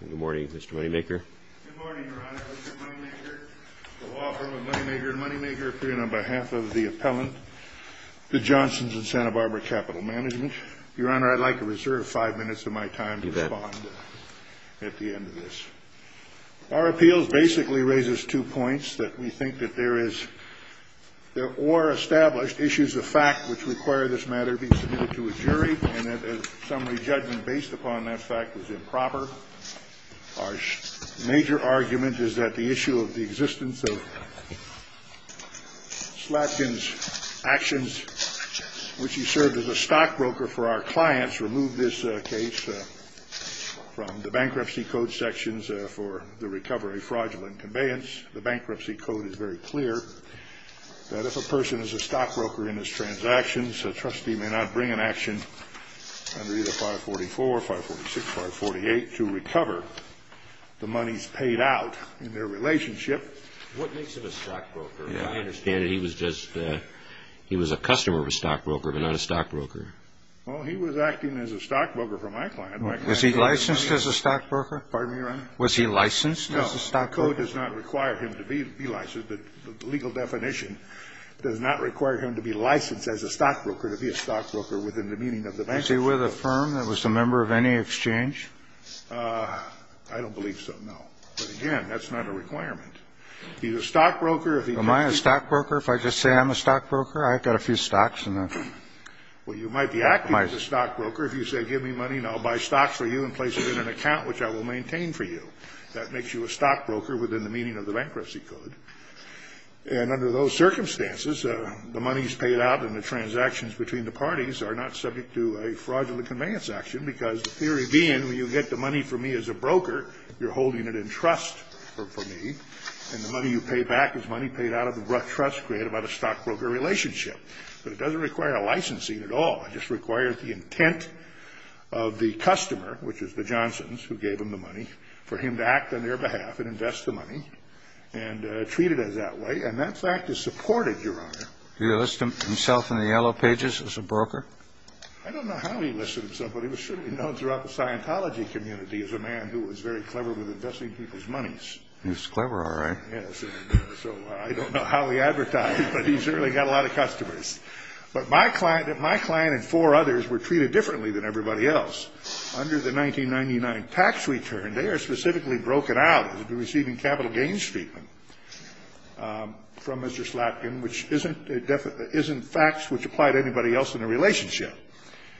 Good morning, Mr. Moneymaker. Good morning, Your Honor, Mr. Moneymaker. The law firm of Moneymaker & Moneymaker appearing on behalf of the appellant, the Johnsons & Santa Barbara Capital Management. Your Honor, I'd like to reserve five minutes of my time to respond at the end of this. Our appeals basically raises two points, that we think that there is, or established, issues of fact which require this matter be submitted to a jury, and that a summary judgment based upon that fact is improper. Our major argument is that the issue of the existence of Slatkin's actions, which he served as a stockbroker for our clients, remove this case from the bankruptcy code sections for the recovery fraudulent conveyance. The bankruptcy code is very clear that if a person is a stockbroker in his transactions, a trustee may not bring an action under either 544, 546, 548, to recover the monies paid out in their relationship. What makes him a stockbroker? I understand that he was just a customer of a stockbroker, but not a stockbroker. Well, he was acting as a stockbroker for my client. Was he licensed as a stockbroker? Pardon me, Your Honor? Was he licensed as a stockbroker? No, the code does not require him to be licensed. The legal definition does not require him to be licensed as a stockbroker, to be a stockbroker within the meaning of the bankruptcy code. Was he with a firm that was a member of any exchange? I don't believe so, no. But, again, that's not a requirement. He's a stockbroker. Am I a stockbroker if I just say I'm a stockbroker? I've got a few stocks. Well, you might be acting as a stockbroker if you say give me money and I'll buy stocks for you and place it in an account which I will maintain for you. That makes you a stockbroker within the meaning of the bankruptcy code. And under those circumstances, the monies paid out and the transactions between the parties are not subject to a fraudulent conveyance action, because the theory being when you get the money from me as a broker, you're holding it in trust for me, and the money you pay back is money paid out of the trust created by the stockbroker relationship. But it doesn't require a licensing at all. It just requires the intent of the customer, which is the Johnsons who gave him the And that fact is supported, Your Honor. Did he list himself in the yellow pages as a broker? I don't know how he listed himself, but he was certainly known throughout the Scientology community as a man who was very clever with investing people's monies. He was clever, all right. Yes. So I don't know how he advertised, but he certainly got a lot of customers. But my client and four others were treated differently than everybody else. Under the 1999 tax return, they are specifically broken out as to be receiving capital gains treatment from Mr. Slatkin, which isn't facts which apply to anybody else in the relationship.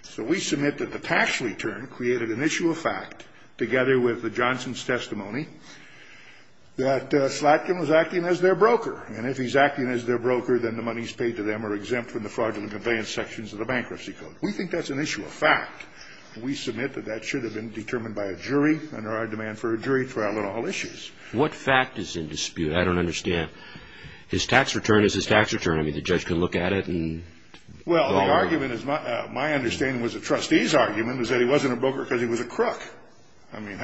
So we submit that the tax return created an issue of fact, together with the Johnsons' testimony, that Slatkin was acting as their broker. And if he's acting as their broker, then the monies paid to them are exempt from the fraudulent conveyance sections of the bankruptcy code. We think that's an issue of fact. We submit that that should have been determined by a jury under our demand for a jury trial on all issues. What fact is in dispute? I don't understand. His tax return is his tax return. I mean, the judge can look at it and... Well, the argument is... My understanding was the trustee's argument was that he wasn't a broker because he was a crook. I mean...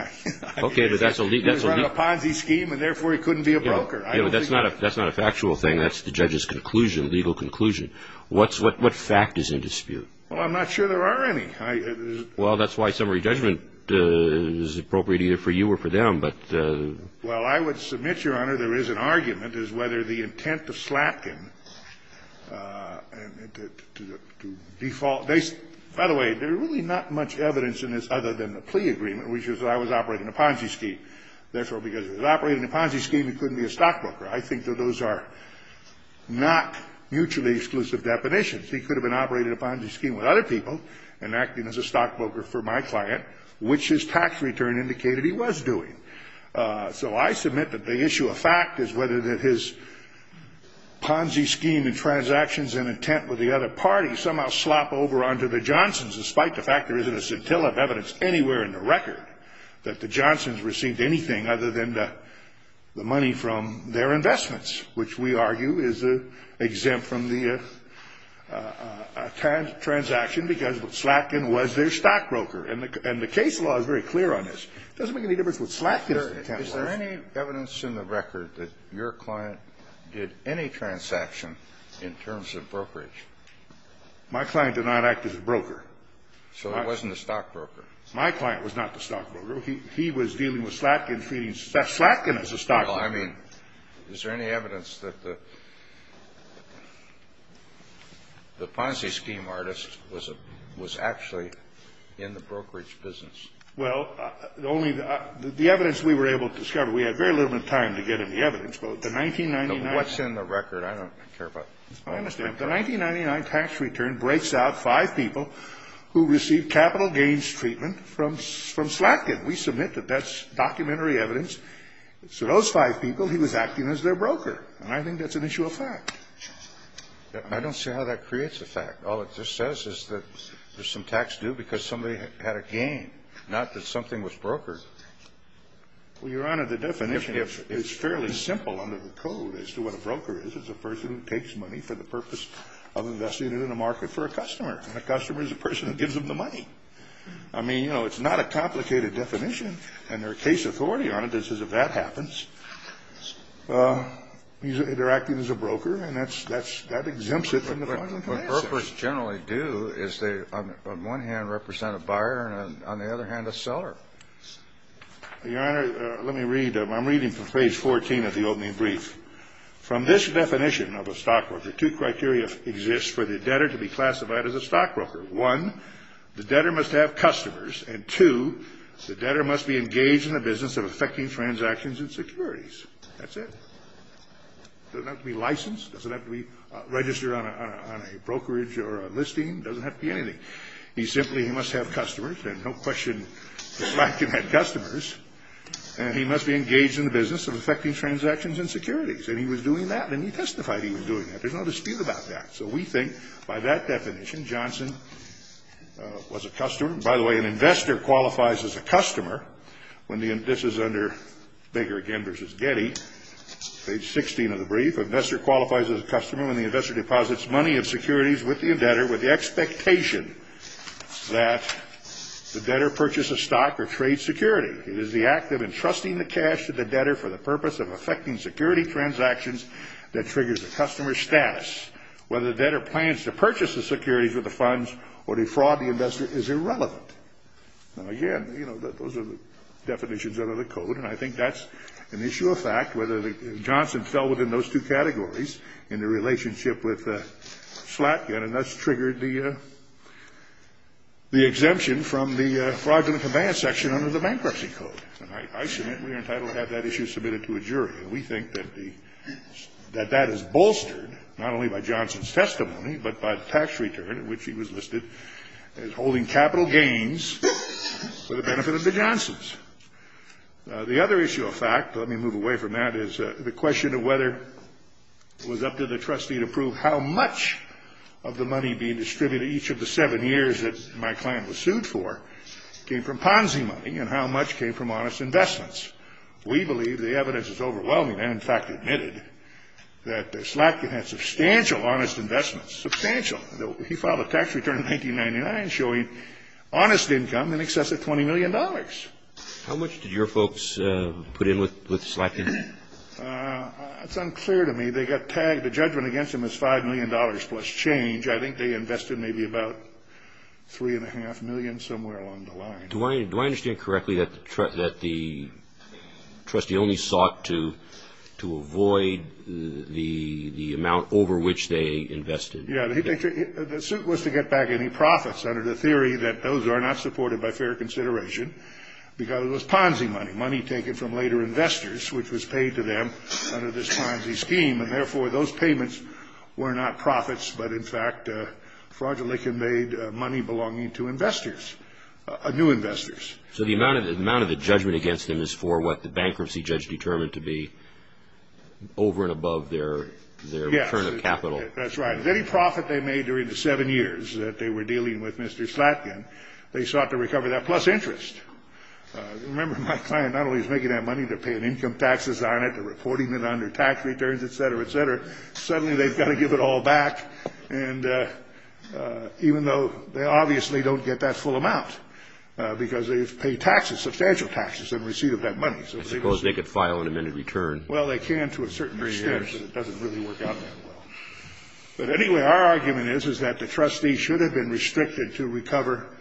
Okay, but that's a... He was running a Ponzi scheme, and therefore he couldn't be a broker. Yeah, but that's not a factual thing. That's the judge's conclusion, legal conclusion. What fact is in dispute? Well, I'm not sure there are any. Well, that's why summary judgment is appropriate either for you or for them. But... Well, I would submit, Your Honor, there is an argument as whether the intent of Slapkin to default they by the way, there's really not much evidence in this other than the plea agreement, which is that I was operating a Ponzi scheme. Therefore, because he was operating a Ponzi scheme, he couldn't be a stockbroker. I think that those are not mutually exclusive definitions. He could have been operating a Ponzi scheme with other people and acting as a stockbroker for my client, which his tax return indicated he was doing. So I submit that the issue of fact is whether his Ponzi scheme and transactions and intent with the other party somehow slop over onto the Johnsons, despite the fact there isn't a scintilla of evidence anywhere in the record that the Johnsons received anything other than the money from their investments, which we argue is exempt from the transaction because Slapkin was their stockbroker. And the case law is very clear on this. It doesn't make any difference what Slapkin's intent was. Is there any evidence in the record that your client did any transaction in terms of brokerage? My client did not act as a broker. So it wasn't a stockbroker. My client was not the stockbroker. He was dealing with Slapkin, treating Slapkin as a stockbroker. Well, I mean, is there any evidence that the Ponzi scheme artist was actually in the brokerage business? Well, only the evidence we were able to discover. We had very little time to get any evidence. But the 1999 tax return breaks out five people who received capital gains treatment from Slapkin. We submit that that's documentary evidence. So those five people, he was acting as their broker. And I think that's an issue of fact. I don't see how that creates a fact. All it just says is that there's some tax due because somebody had a gain, not that something was brokered. Well, Your Honor, the definition is fairly simple under the code as to what a broker is. It's a person who takes money for the purpose of investing it in a market for a customer. And a customer is a person who gives them the money. I mean, you know, it's not a complicated definition. And there are case authority on it that says if that happens, they're acting as a broker. And that exempts it from the Ponzi scheme. What brokers generally do is they, on one hand, represent a buyer and on the other hand, a seller. Your Honor, let me read. I'm reading from page 14 of the opening brief. From this definition of a stockbroker, two criteria exist for the debtor to be classified as a stockbroker. One, the debtor must have customers. And two, the debtor must be engaged in a business of effecting transactions and securities. That's it. Doesn't have to be licensed. Doesn't have to be registered on a brokerage or a listing. Doesn't have to be anything. He simply must have customers. And no question that Black can have customers. And he must be engaged in the business of effecting transactions and securities. And he was doing that. And he testified he was doing that. There's no dispute about that. So we think by that definition, Johnson was a customer. And by the way, an investor qualifies as a customer when the index is under Baker again versus Getty. Page 16 of the brief. An investor qualifies as a customer when the investor deposits money and securities with the debtor with the expectation that the debtor purchase a stock or trade security. It is the act of entrusting the cash to the debtor for the purpose of effecting security transactions that triggers the customer's status. Whether the debtor plans to purchase the security for the funds or defraud the investor is irrelevant. And again, you know, those are the definitions under the Code. And I think that's an issue of fact, whether Johnson fell within those two categories in the relationship with Slatkin, and thus triggered the exemption from the fraudulent command section under the Bankruptcy Code. And I submit we are entitled to have that issue submitted to a jury. And we think that that is bolstered not only by Johnson's testimony, but by tax return, which he was listed as holding capital gains for the benefit of the Johnsons. The other issue of fact, let me move away from that, is the question of whether it was up to the trustee to prove how much of the money being distributed each of the seven years that my client was sued for came from Ponzi money and how much came from honest investments. We believe the evidence is overwhelming. I, in fact, admitted that Slatkin had substantial honest investments, substantial. He filed a tax return in 1999 showing honest income in excess of $20 million. How much did your folks put in with Slatkin? It's unclear to me. They got tagged. The judgment against them is $5 million plus change. I think they invested maybe about $3.5 million, somewhere along the line. Do I understand correctly that the trustee only sought to avoid the amount over which they invested? Yes. The suit was to get back any profits under the theory that those are not supported by fair consideration because it was Ponzi money, money taken from later investors, which was paid to them under this Ponzi scheme. And, therefore, those payments were not profits, but, in fact, fraudulently conveyed money belonging to investors, new investors. So the amount of the judgment against them is for what the bankruptcy judge determined to be, over and above their return of capital? Yes, that's right. Any profit they made during the seven years that they were dealing with Mr. Slatkin, they sought to recover that plus interest. Remember, my client not only is making that money, they're paying income taxes on it, they're reporting it under tax returns, et cetera, et cetera. Because they've paid taxes, substantial taxes, in receipt of that money. I suppose they could file an amended return. Well, they can to a certain extent, but it doesn't really work out that well. But, anyway, our argument is that the trustee should have been restricted to recover,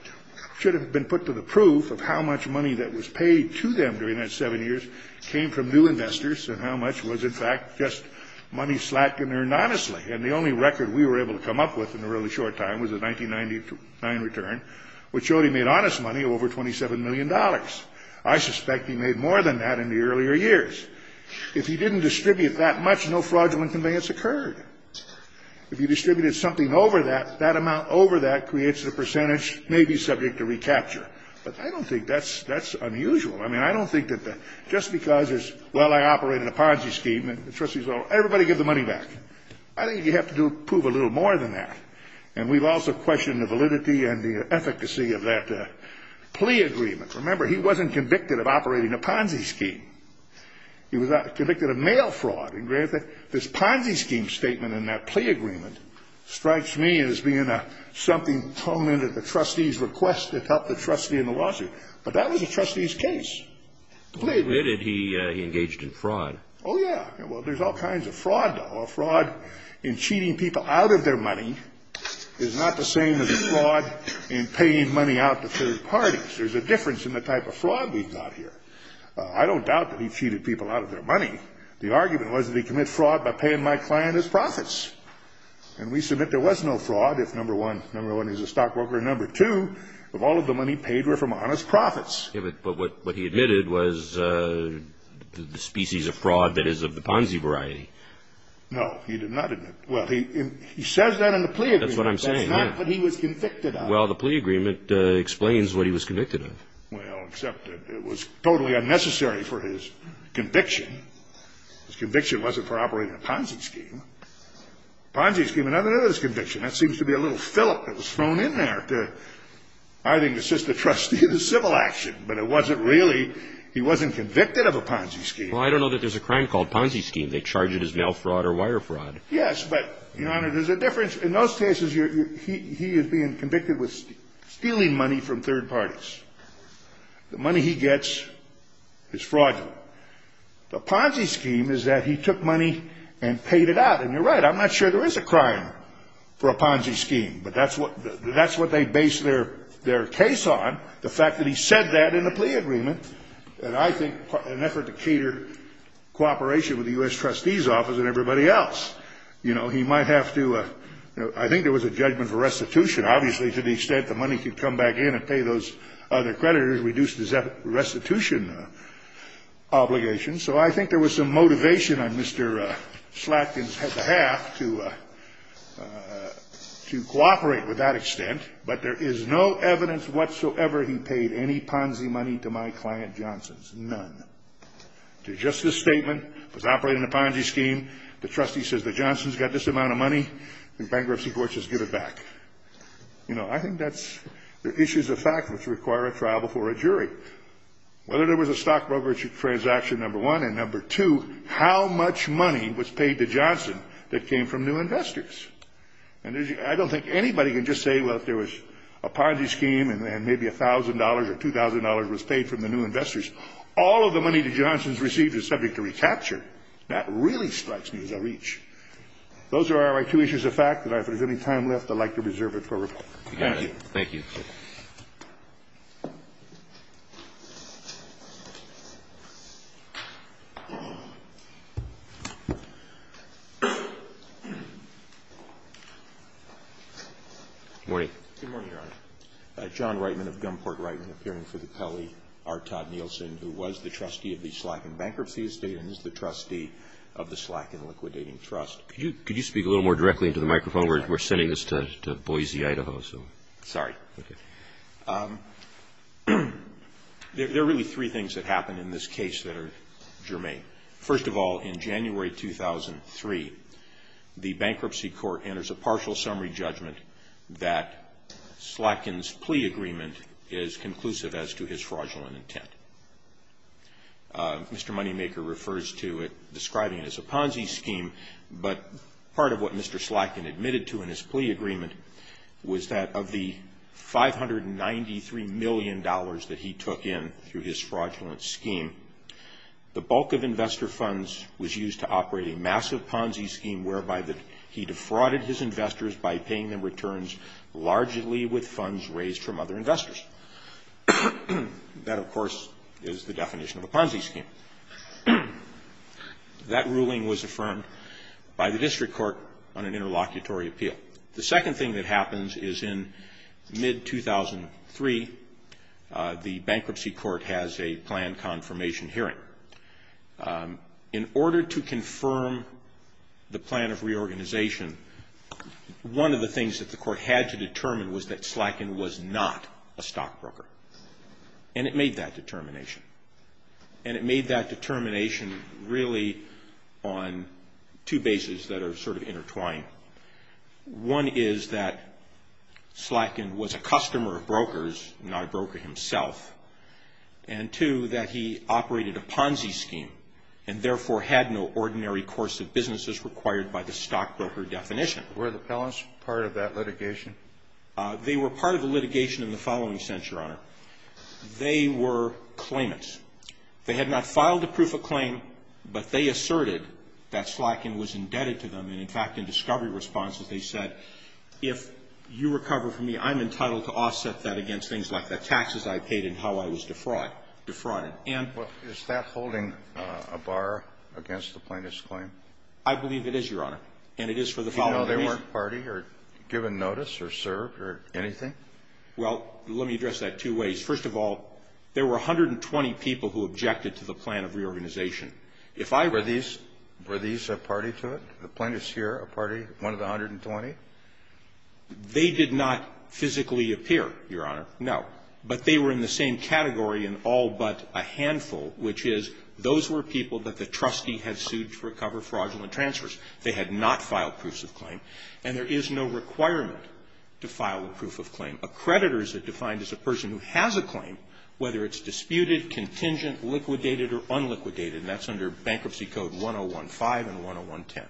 should have been put to the proof of how much money that was paid to them during that seven years came from new investors and how much was, in fact, just money Slatkin earned honestly. And the only record we were able to come up with in a really short time was a 1999 return, which showed he made honest money over $27 million. I suspect he made more than that in the earlier years. If he didn't distribute that much, no fraudulent conveyance occurred. If he distributed something over that, that amount over that creates a percentage maybe subject to recapture. But I don't think that's unusual. I mean, I don't think that just because there's, well, I operated a Ponzi scheme, and the trustees all, everybody give the money back. I think you have to prove a little more than that. And we've also questioned the validity and the efficacy of that plea agreement. Remember, he wasn't convicted of operating a Ponzi scheme. He was convicted of mail fraud. And, granted, this Ponzi scheme statement and that plea agreement strikes me as being something toned into the trustee's request to help the trustee in the lawsuit. But that was the trustee's case. Why did he engage in fraud? Oh, yeah. Well, there's all kinds of fraud, though. A fraud in cheating people out of their money is not the same as a fraud in paying money out to third parties. There's a difference in the type of fraud we've got here. I don't doubt that he cheated people out of their money. The argument was that he committed fraud by paying my client his profits. And we submit there was no fraud if, number one, number one, he was a stockbroker, and number two, if all of the money paid were from honest profits. But what he admitted was the species of fraud that is of the Ponzi variety. No, he did not admit. Well, he says that in the plea agreement. That's what I'm saying, yeah. That's not what he was convicted of. Well, the plea agreement explains what he was convicted of. Well, except it was totally unnecessary for his conviction. His conviction wasn't for operating a Ponzi scheme. Ponzi scheme, another of his convictions, that seems to be a little fillip that was thrown in there to, I think, assist the trustee in a civil action. But it wasn't really. He wasn't convicted of a Ponzi scheme. Well, I don't know that there's a crime called Ponzi scheme. They charge it as mail fraud or wire fraud. Yes, but, Your Honor, there's a difference. In those cases, he is being convicted with stealing money from third parties. The money he gets is fraudulent. The Ponzi scheme is that he took money and paid it out. And you're right. I'm not sure there is a crime for a Ponzi scheme. But that's what they base their case on, the fact that he said that in the plea agreement. And I think an effort to cater cooperation with the U.S. trustee's office and everybody else. You know, he might have to, you know, I think there was a judgment for restitution. Obviously, to the extent the money could come back in and pay those other creditors reduced his restitution obligation. So I think there was some motivation on Mr. Slatkin's behalf to cooperate with that extent. But there is no evidence whatsoever he paid any Ponzi money to my client Johnson's. None. To just this statement, was operating the Ponzi scheme. The trustee says that Johnson's got this amount of money. The bankruptcy court says give it back. You know, I think that's the issues of fact which require a trial before a jury. Whether there was a stockbroker transaction, number one. And number two, how much money was paid to Johnson that came from new investors? And I don't think anybody can just say, well, if there was a Ponzi scheme and maybe $1,000 or $2,000 was paid from the new investors, all of the money that Johnson's received is subject to recapture. That really strikes me as a reach. Those are my two issues of fact. If there's any time left, I'd like to reserve it for rebuttal. Thank you. Thank you. Good morning. Good morning, Your Honor. John Reitman of Gunport Reitman, appearing for the Pele, R. Todd Nielsen, who was the trustee of the Slacken Bankruptcy Estate and is the trustee of the Slacken Liquidating Trust. Could you speak a little more directly into the microphone? We're sending this to Boise, Idaho. Sorry. Okay. There are really three things that happened in this case that are germane. First of all, in January 2003, the bankruptcy court enters a partial summary judgment that Slacken's plea agreement is conclusive as to his fraudulent intent. Mr. Moneymaker refers to it, describing it as a Ponzi scheme, but part of what Mr. Moneymaker says is that of the $593 million that he took in through his fraudulent scheme, the bulk of investor funds was used to operate a massive Ponzi scheme whereby he defrauded his investors by paying them returns largely with funds raised from other investors. That, of course, is the definition of a Ponzi scheme. That ruling was affirmed by the district court on an interlocutory appeal. The second thing that happens is in mid-2003, the bankruptcy court has a plan confirmation hearing. In order to confirm the plan of reorganization, one of the things that the court had to determine was that Slacken was not a stockbroker, and it made that determination. And it made that determination really on two bases that are sort of intertwined. One is that Slacken was a customer of brokers, not a broker himself, and, two, that he operated a Ponzi scheme and, therefore, had no ordinary course of businesses required by the stockbroker definition. Were the Pellants part of that litigation? They were part of the litigation in the following sense, Your Honor. They were claimants. They had not filed a proof of claim, but they asserted that Slacken was indebted to them, and, in fact, in discovery responses, they said, if you recover from me, I'm entitled to offset that against things like the taxes I paid and how I was defrauded. And ---- Well, is that holding a bar against the plaintiff's claim? I believe it is, Your Honor. And it is for the following reason. Even though they weren't party or given notice or served or anything? Well, let me address that two ways. First of all, there were 120 people who objected to the plan of reorganization. If I were to ---- Were these a party to it, the plaintiffs here, a party, one of the 120? They did not physically appear, Your Honor, no. But they were in the same category in all but a handful, which is those were people that the trustee had sued to recover fraudulent transfers. They had not filed proofs of claim. And there is no requirement to file a proof of claim. A creditor is defined as a person who has a claim, whether it's disputed, contingent, liquidated, or unliquidated. And that's under Bankruptcy Code 1015 and 10110.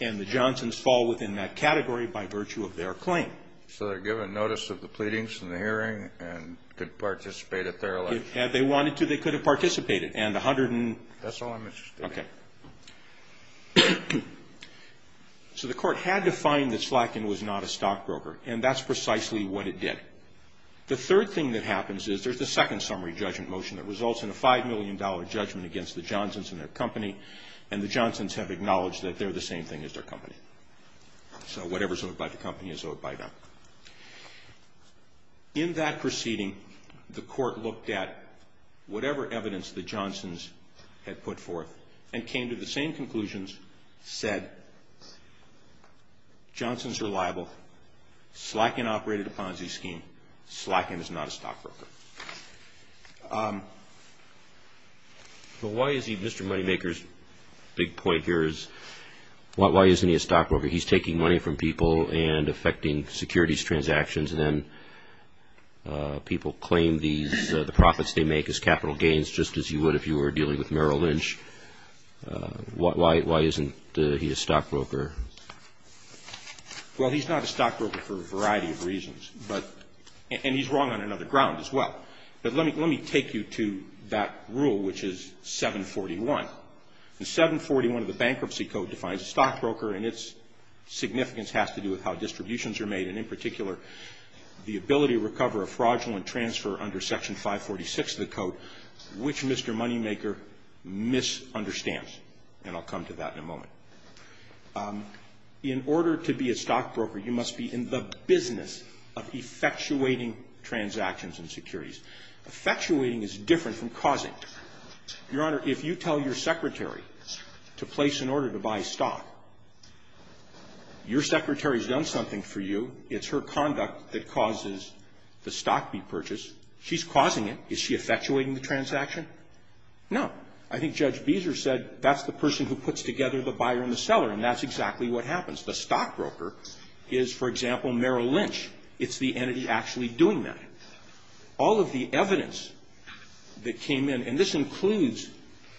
And the Johnsons fall within that category by virtue of their claim. So they're given notice of the pleadings and the hearing and could participate at their election? If they wanted to, they could have participated. And a hundred and ---- That's all I'm interested in. Okay. So the court had to find that Slatkin was not a stockbroker. And that's precisely what it did. The third thing that happens is there's a second summary judgment motion that results in a $5 million judgment against the Johnsons and their company. And the Johnsons have acknowledged that they're the same thing as their company. So whatever's owed by the company is owed by them. In that proceeding, the court looked at whatever evidence the Johnsons had put forth and came to the same conclusions, said, Johnsons are liable. Slatkin operated a Ponzi scheme. Slatkin is not a stockbroker. But why is he Mr. Moneymaker's big point here is why isn't he a stockbroker? He's taking money from people and affecting securities transactions, and then people claim the profits they make as capital gains just as you would if you were dealing with Merrill Lynch. Why isn't he a stockbroker? Well, he's not a stockbroker for a variety of reasons. But he's wrong on another ground as well. But let me take you to that rule, which is 741. And 741 of the Bankruptcy Code defines a stockbroker, and its significance has to do with how distributions are made and, in particular, the ability to recover a fraudulent transfer under Section 546 of the Code, which Mr. Moneymaker misunderstands. And I'll come to that in a moment. In order to be a stockbroker, you must be in the business of effectuating transactions and securities. Effectuating is different from causing. Your Honor, if you tell your secretary to place an order to buy stock, your secretary has done something for you. It's her conduct that causes the stock to be purchased. She's causing it. Is she effectuating the transaction? No. I think Judge Beezer said that's the person who puts together the buyer and the seller, and that's exactly what happens. The stockbroker is, for example, Merrill Lynch. It's the entity actually doing that. All of the evidence that came in, and this includes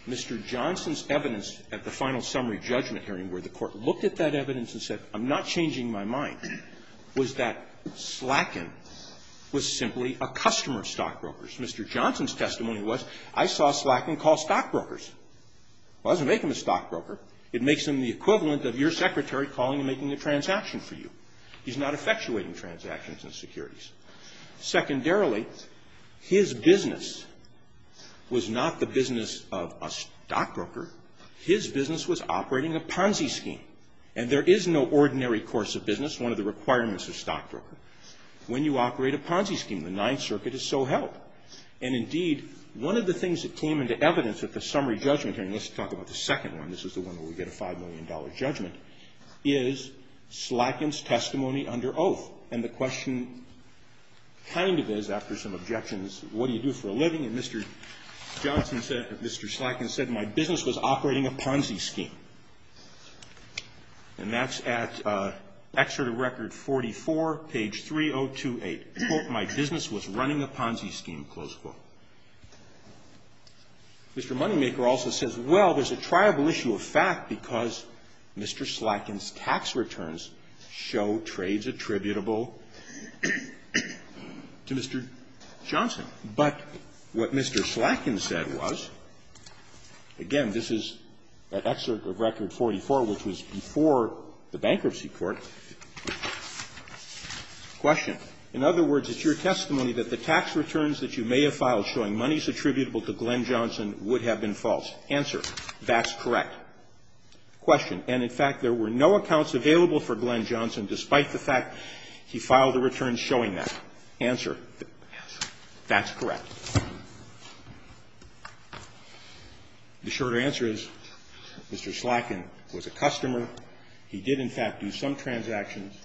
Mr. Johnson's evidence at the time in my mind, was that Slaken was simply a customer of stockbrokers. Mr. Johnson's testimony was, I saw Slaken call stockbrokers. It doesn't make him a stockbroker. It makes him the equivalent of your secretary calling and making a transaction for you. He's not effectuating transactions and securities. Secondarily, his business was not the business of a stockbroker. His business was operating a Ponzi scheme. And there is no ordinary course of business, one of the requirements of stockbroker, when you operate a Ponzi scheme. The Ninth Circuit is so held. And, indeed, one of the things that came into evidence at the summary judgment hearing, let's talk about the second one, this is the one where we get a $5 million judgment, is Slaken's testimony under oath. And the question kind of is, after some objections, what do you do for a living? And Mr. Johnson said, Mr. Slaken said, my business was operating a Ponzi scheme. And that's at Excerpt of Record 44, page 3028. Quote, my business was running a Ponzi scheme, close quote. Mr. Moneymaker also says, well, there's a triable issue of fact because Mr. Slaken's tax returns show trades attributable to Mr. Johnson. But what Mr. Slaken said was, again, this is at Excerpt of Record 44, which was before the bankruptcy court. Question. In other words, it's your testimony that the tax returns that you may have filed showing monies attributable to Glenn Johnson would have been false. Answer. That's correct. Question. And, in fact, there were no accounts available for Glenn Johnson despite the fact he filed a return showing that. Answer. Answer. That's correct. The short answer is Mr. Slaken was a customer. He did, in fact, do some transactions.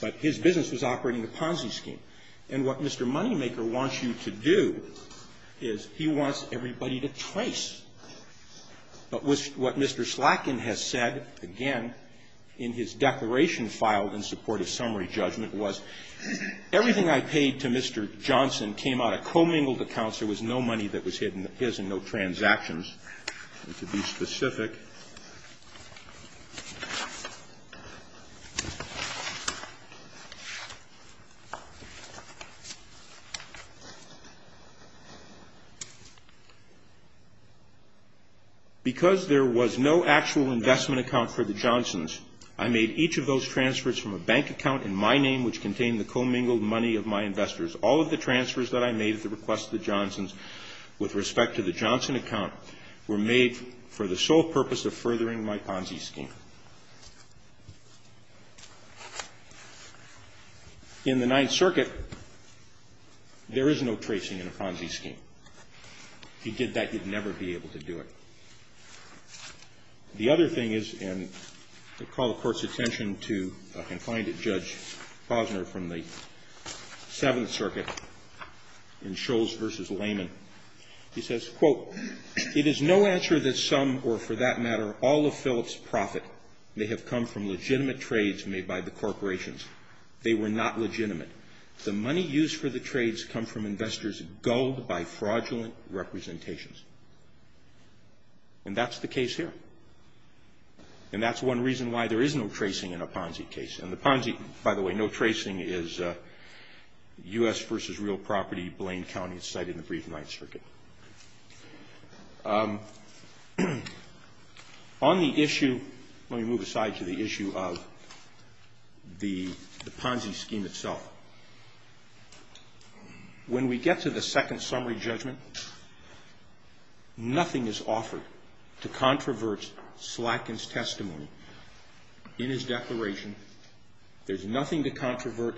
But his business was operating a Ponzi scheme. And what Mr. Moneymaker wants you to do is he wants everybody to trace. But what Mr. Slaken has said, again, in his declaration filed in support of summary judgment, was everything I paid to Mr. Johnson came out of commingled accounts. There was no money that was hidden. There's no transactions. To be specific, because there was no actual investment account for the Johnsons, I made each of those transfers from a bank account in my name which contained the commingled money of my investors. All of the transfers that I made at the request of the Johnsons with respect to the Johnson account were made for the sole purpose of furthering my Ponzi scheme. In the Ninth Circuit, there is no tracing in a Ponzi scheme. If you did that, you'd never be able to do it. The other thing is, and I call the Court's attention to a confined judge, Posner, from the Seventh Circuit in Scholes v. Lehman. He says, quote, It is no answer that some or, for that matter, all of Phillips' profit may have come from legitimate trades made by the corporations. They were not legitimate. The money used for the trades come from investors gulled by fraudulent representations. And that's the case here. And that's one reason why there is no tracing in a Ponzi case. And the Ponzi, by the way, no tracing is U.S. v. Real Property, Blaine County. It's cited in the brief Ninth Circuit. On the issue, let me move aside to the issue of the Ponzi scheme itself. When we get to the second summary judgment, nothing is offered to controvert Slatkin's testimony in his declaration. There's nothing to controvert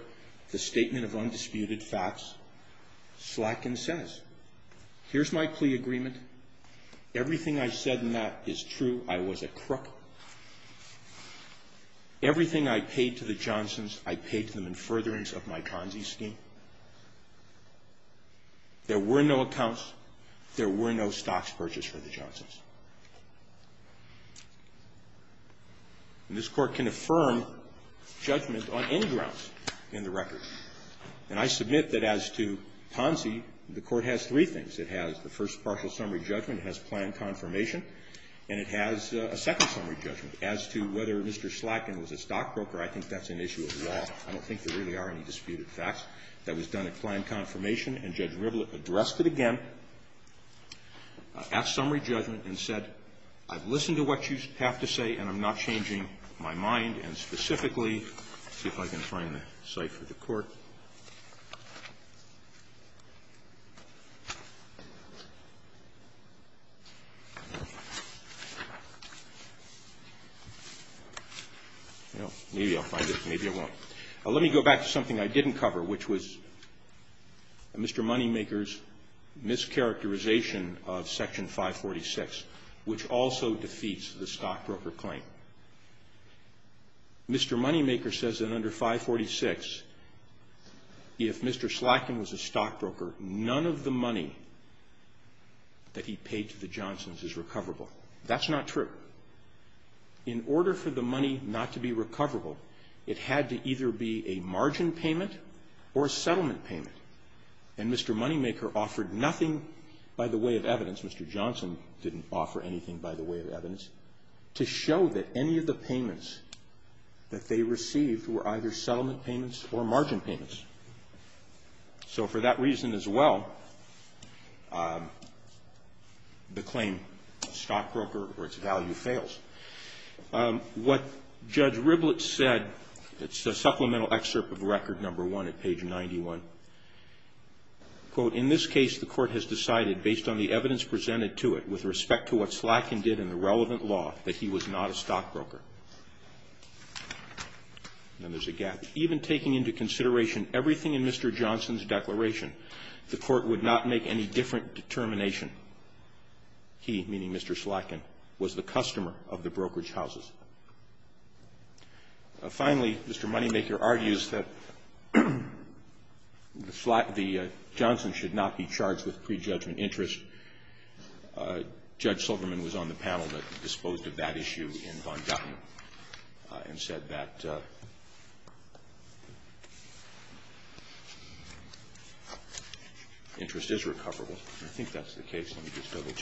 the statement of undisputed facts. Slatkin says, here's my plea agreement. Everything I said in that is true. I was a crook. Everything I paid to the Johnsons, I paid to them in furtherance of my Ponzi scheme. There were no accounts. There were no stocks purchased for the Johnsons. And this Court can affirm judgment on any grounds in the record. And I submit that as to Ponzi, the Court has three things. It has the first partial summary judgment. It has planned confirmation. And it has a second summary judgment. As to whether Mr. Slatkin was a stockbroker, I think that's an issue of law. I don't think there really are any disputed facts. That was done at planned confirmation, and Judge Rivlin addressed it again at summary judgment and said, I've listened to what you have to say and I'm not changing my mind. Let me go back to something I didn't cover, which was Mr. Moneymaker's mischaracterization of Section 546, which also defeats the stockbroker claim. Mr. Moneymaker says that under 546, if Mr. Slatkin was a stockbroker, none of the money that he paid to the Johnsons is recoverable. That's not true. In order for the money not to be recoverable, it had to either be a margin payment or a settlement payment. And Mr. Moneymaker offered nothing by the way of evidence. Mr. Johnson didn't offer anything by the way of evidence to show that any of the payments that they received were either settlement payments or margin payments. So for that reason as well, the claim stockbroker or its value fails. What Judge Rivlin said, it's a supplemental excerpt of Record No. 1 at page 91. Quote, in this case the Court has decided based on the evidence presented to it with respect to what Slatkin did in the relevant law that he was not a stockbroker. And there's a gap. Even taking into consideration everything in Mr. Johnson's declaration, the Court would not make any different determination. He, meaning Mr. Slatkin, was the customer of the brokerage houses. Finally, Mr. Moneymaker argues that the Johnson should not be charged with prejudgment interest. Judge Silverman was on the panel that disposed of that issue in Von Dauten and said that interest is recoverable. I think that's the case. Let me just double check.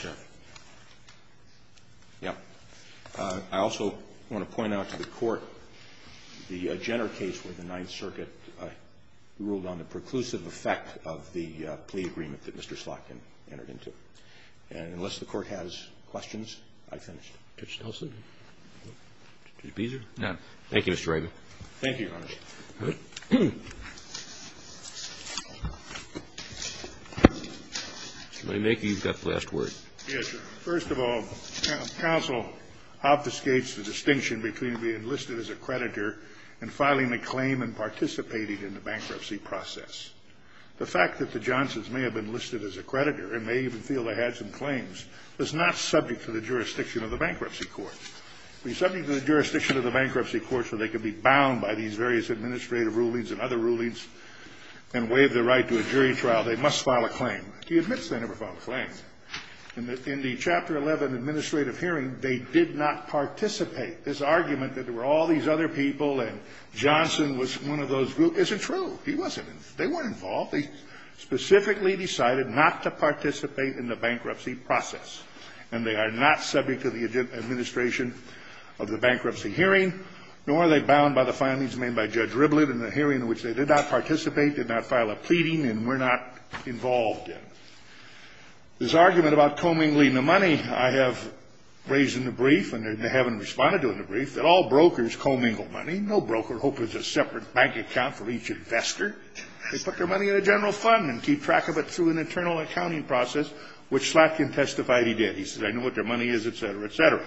Yeah. I also want to point out to the Court the Jenner case where the Ninth Circuit ruled on the preclusive effect of the plea agreement that Mr. Slatkin entered into. And unless the Court has questions, I've finished. Judge Nelson? Judge Beeser? None. Thank you, Mr. Rivlin. Thank you, Your Honor. All right. Mr. Moneymaker, you've got the last word. Yes, Your Honor. First of all, counsel obfuscates the distinction between being enlisted as a creditor and filing a claim and participating in the bankruptcy process. The fact that the Johnsons may have been enlisted as a creditor and may even feel they had some claims is not subject to the jurisdiction of the bankruptcy court. It would be subject to the jurisdiction of the bankruptcy court so they could be bound by these various administrative rulings and other rulings and waive their right to a jury trial. They must file a claim. He admits they never filed a claim. In the Chapter 11 administrative hearing, they did not participate. This argument that there were all these other people and Johnson was one of those groups isn't true. He wasn't. They weren't involved. They specifically decided not to participate in the bankruptcy process, and they are not subject to the administration of the bankruptcy hearing, nor are they bound by the findings made by Judge Rivlin in the hearing in which they did not participate, did not file a pleading, and were not involved in. This argument about commingling the money, I have raised in the brief, and they haven't responded to it in the brief, that all brokers commingle money. No broker hopes it's a separate bank account for each investor. They put their money in a general fund and keep track of it through an internal accounting process, which Slatkin testified he did. He said, I know what their money is, et cetera, et cetera.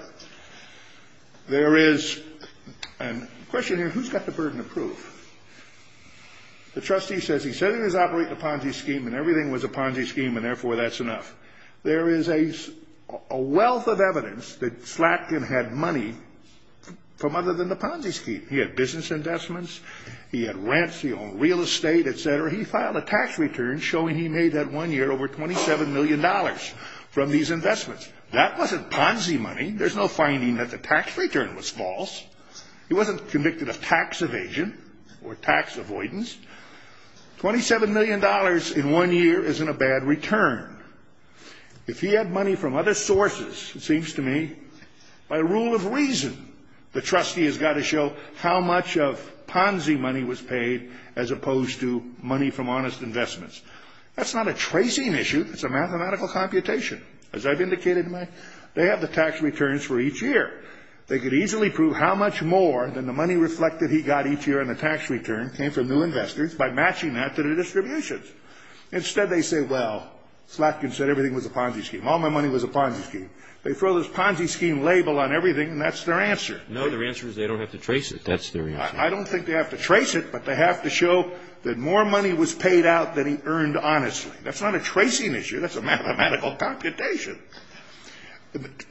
There is a question here, who's got the burden of proof? The trustee says he said he was operating a Ponzi scheme and everything was a Ponzi scheme and therefore that's enough. There is a wealth of evidence that Slatkin had money from other than the Ponzi scheme. He had business investments. He had rents. He owned real estate, et cetera. He filed a tax return showing he made that one year over $27 million from these investments. That wasn't Ponzi money. There's no finding that the tax return was false. He wasn't convicted of tax evasion or tax avoidance. $27 million in one year isn't a bad return. If he had money from other sources, it seems to me, by rule of reason the trustee has got to show how much of Ponzi money was paid as opposed to money from honest investments. That's not a tracing issue. It's a mathematical computation. As I've indicated, they have the tax returns for each year. They could easily prove how much more than the money reflected he got each year in the tax return came from new investors by matching that to the distributions. Instead, they say, well, Slatkin said everything was a Ponzi scheme. All my money was a Ponzi scheme. They throw this Ponzi scheme label on everything and that's their answer. No, their answer is they don't have to trace it. That's their answer. I don't think they have to trace it, but they have to show that more money was paid out than he earned honestly. That's not a tracing issue. That's a mathematical computation.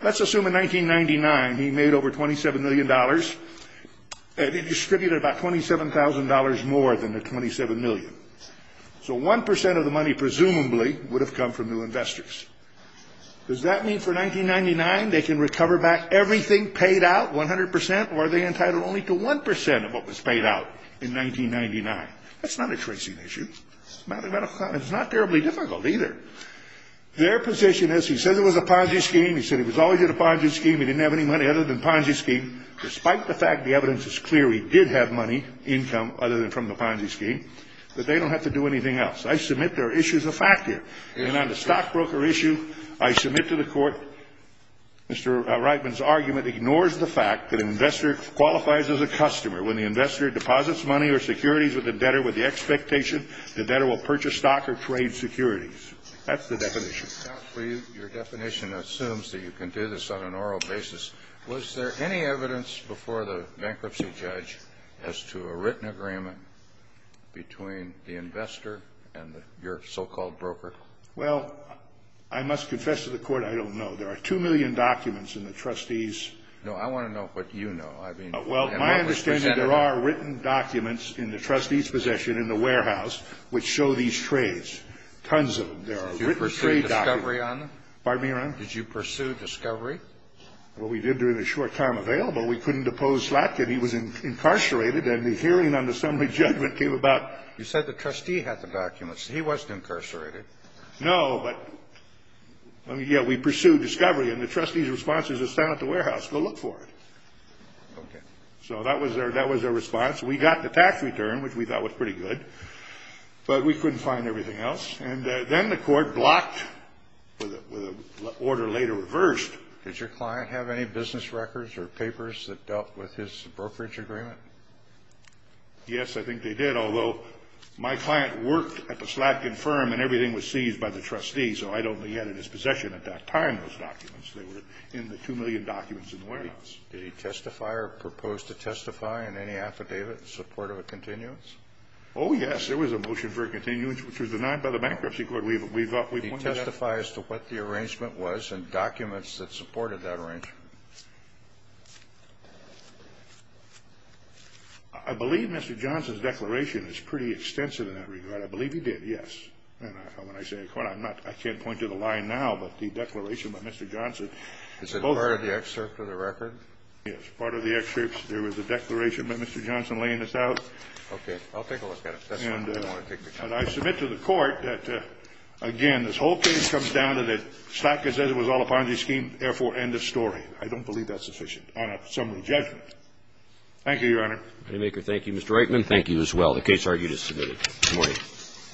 Let's assume in 1999 he made over $27 million. He distributed about $27,000 more than the 27 million. So 1% of the money presumably would have come from new investors. Does that mean for 1999 they can recover back everything paid out 100% or are they entitled only to 1% of what was paid out in 1999? That's not a tracing issue. It's not terribly difficult either. Their position is he said it was a Ponzi scheme. He said he was always in a Ponzi scheme. He didn't have any money other than Ponzi scheme. Despite the fact the evidence is clear he did have money, income, other than from the Ponzi scheme, that they don't have to do anything else. I submit there are issues of fact here. And on the stockbroker issue, I submit to the court Mr. Reitman's argument ignores the fact that an investor qualifies as a customer. When the investor deposits money or securities with the debtor with the expectation the debtor will purchase stock or trade securities. That's the definition. Your definition assumes that you can do this on an oral basis. Was there any evidence before the bankruptcy judge as to a written agreement between the investor and your so-called broker? Well, I must confess to the court I don't know. There are 2 million documents in the trustees' No, I want to know what you know. Well, my understanding there are written documents in the trustees' possession in the warehouse which show these trades. Tons of them. There are written trade documents. Did you pursue discovery on them? Pardon me, Your Honor? Did you pursue discovery? Well, we did during the short time available. We couldn't depose Slatkin. He was incarcerated and the hearing on the summary judgment came about. You said the trustee had the documents. He wasn't incarcerated. No, but yeah, we pursued discovery. And the trustees' response is to stand at the warehouse, go look for it. Okay. So that was their response. We got the tax return, which we thought was pretty good, but we couldn't find everything else. And then the court blocked with an order later reversed. Did your client have any business records or papers that dealt with his brokerage agreement? Yes, I think they did, although my client worked at the Slatkin firm and everything was seized by the trustees, they were in the 2 million documents in the warehouse. Did he testify or propose to testify in any affidavit in support of a continuance? Oh, yes. There was a motion for a continuance, which was denied by the bankruptcy court. We pointed that out. Did he testify as to what the arrangement was and documents that supported that arrangement? I believe Mr. Johnson's declaration is pretty extensive in that regard. I believe he did, yes. And when I say a court, I can't point to the line now, but the declaration by Mr. Johnson. Is it part of the excerpt of the record? Yes. Part of the excerpt. There was a declaration by Mr. Johnson laying this out. Okay. I'll take a look at it. That's why I didn't want to take the time. And I submit to the court that, again, this whole case comes down to that Slatkin says it was all a Ponzi scheme, therefore, end of story. I don't believe that's sufficient on a summary judgment. Thank you, Your Honor. Thank you, Mr. Reitman. Thank you as well. The case argued is submitted. Good morning.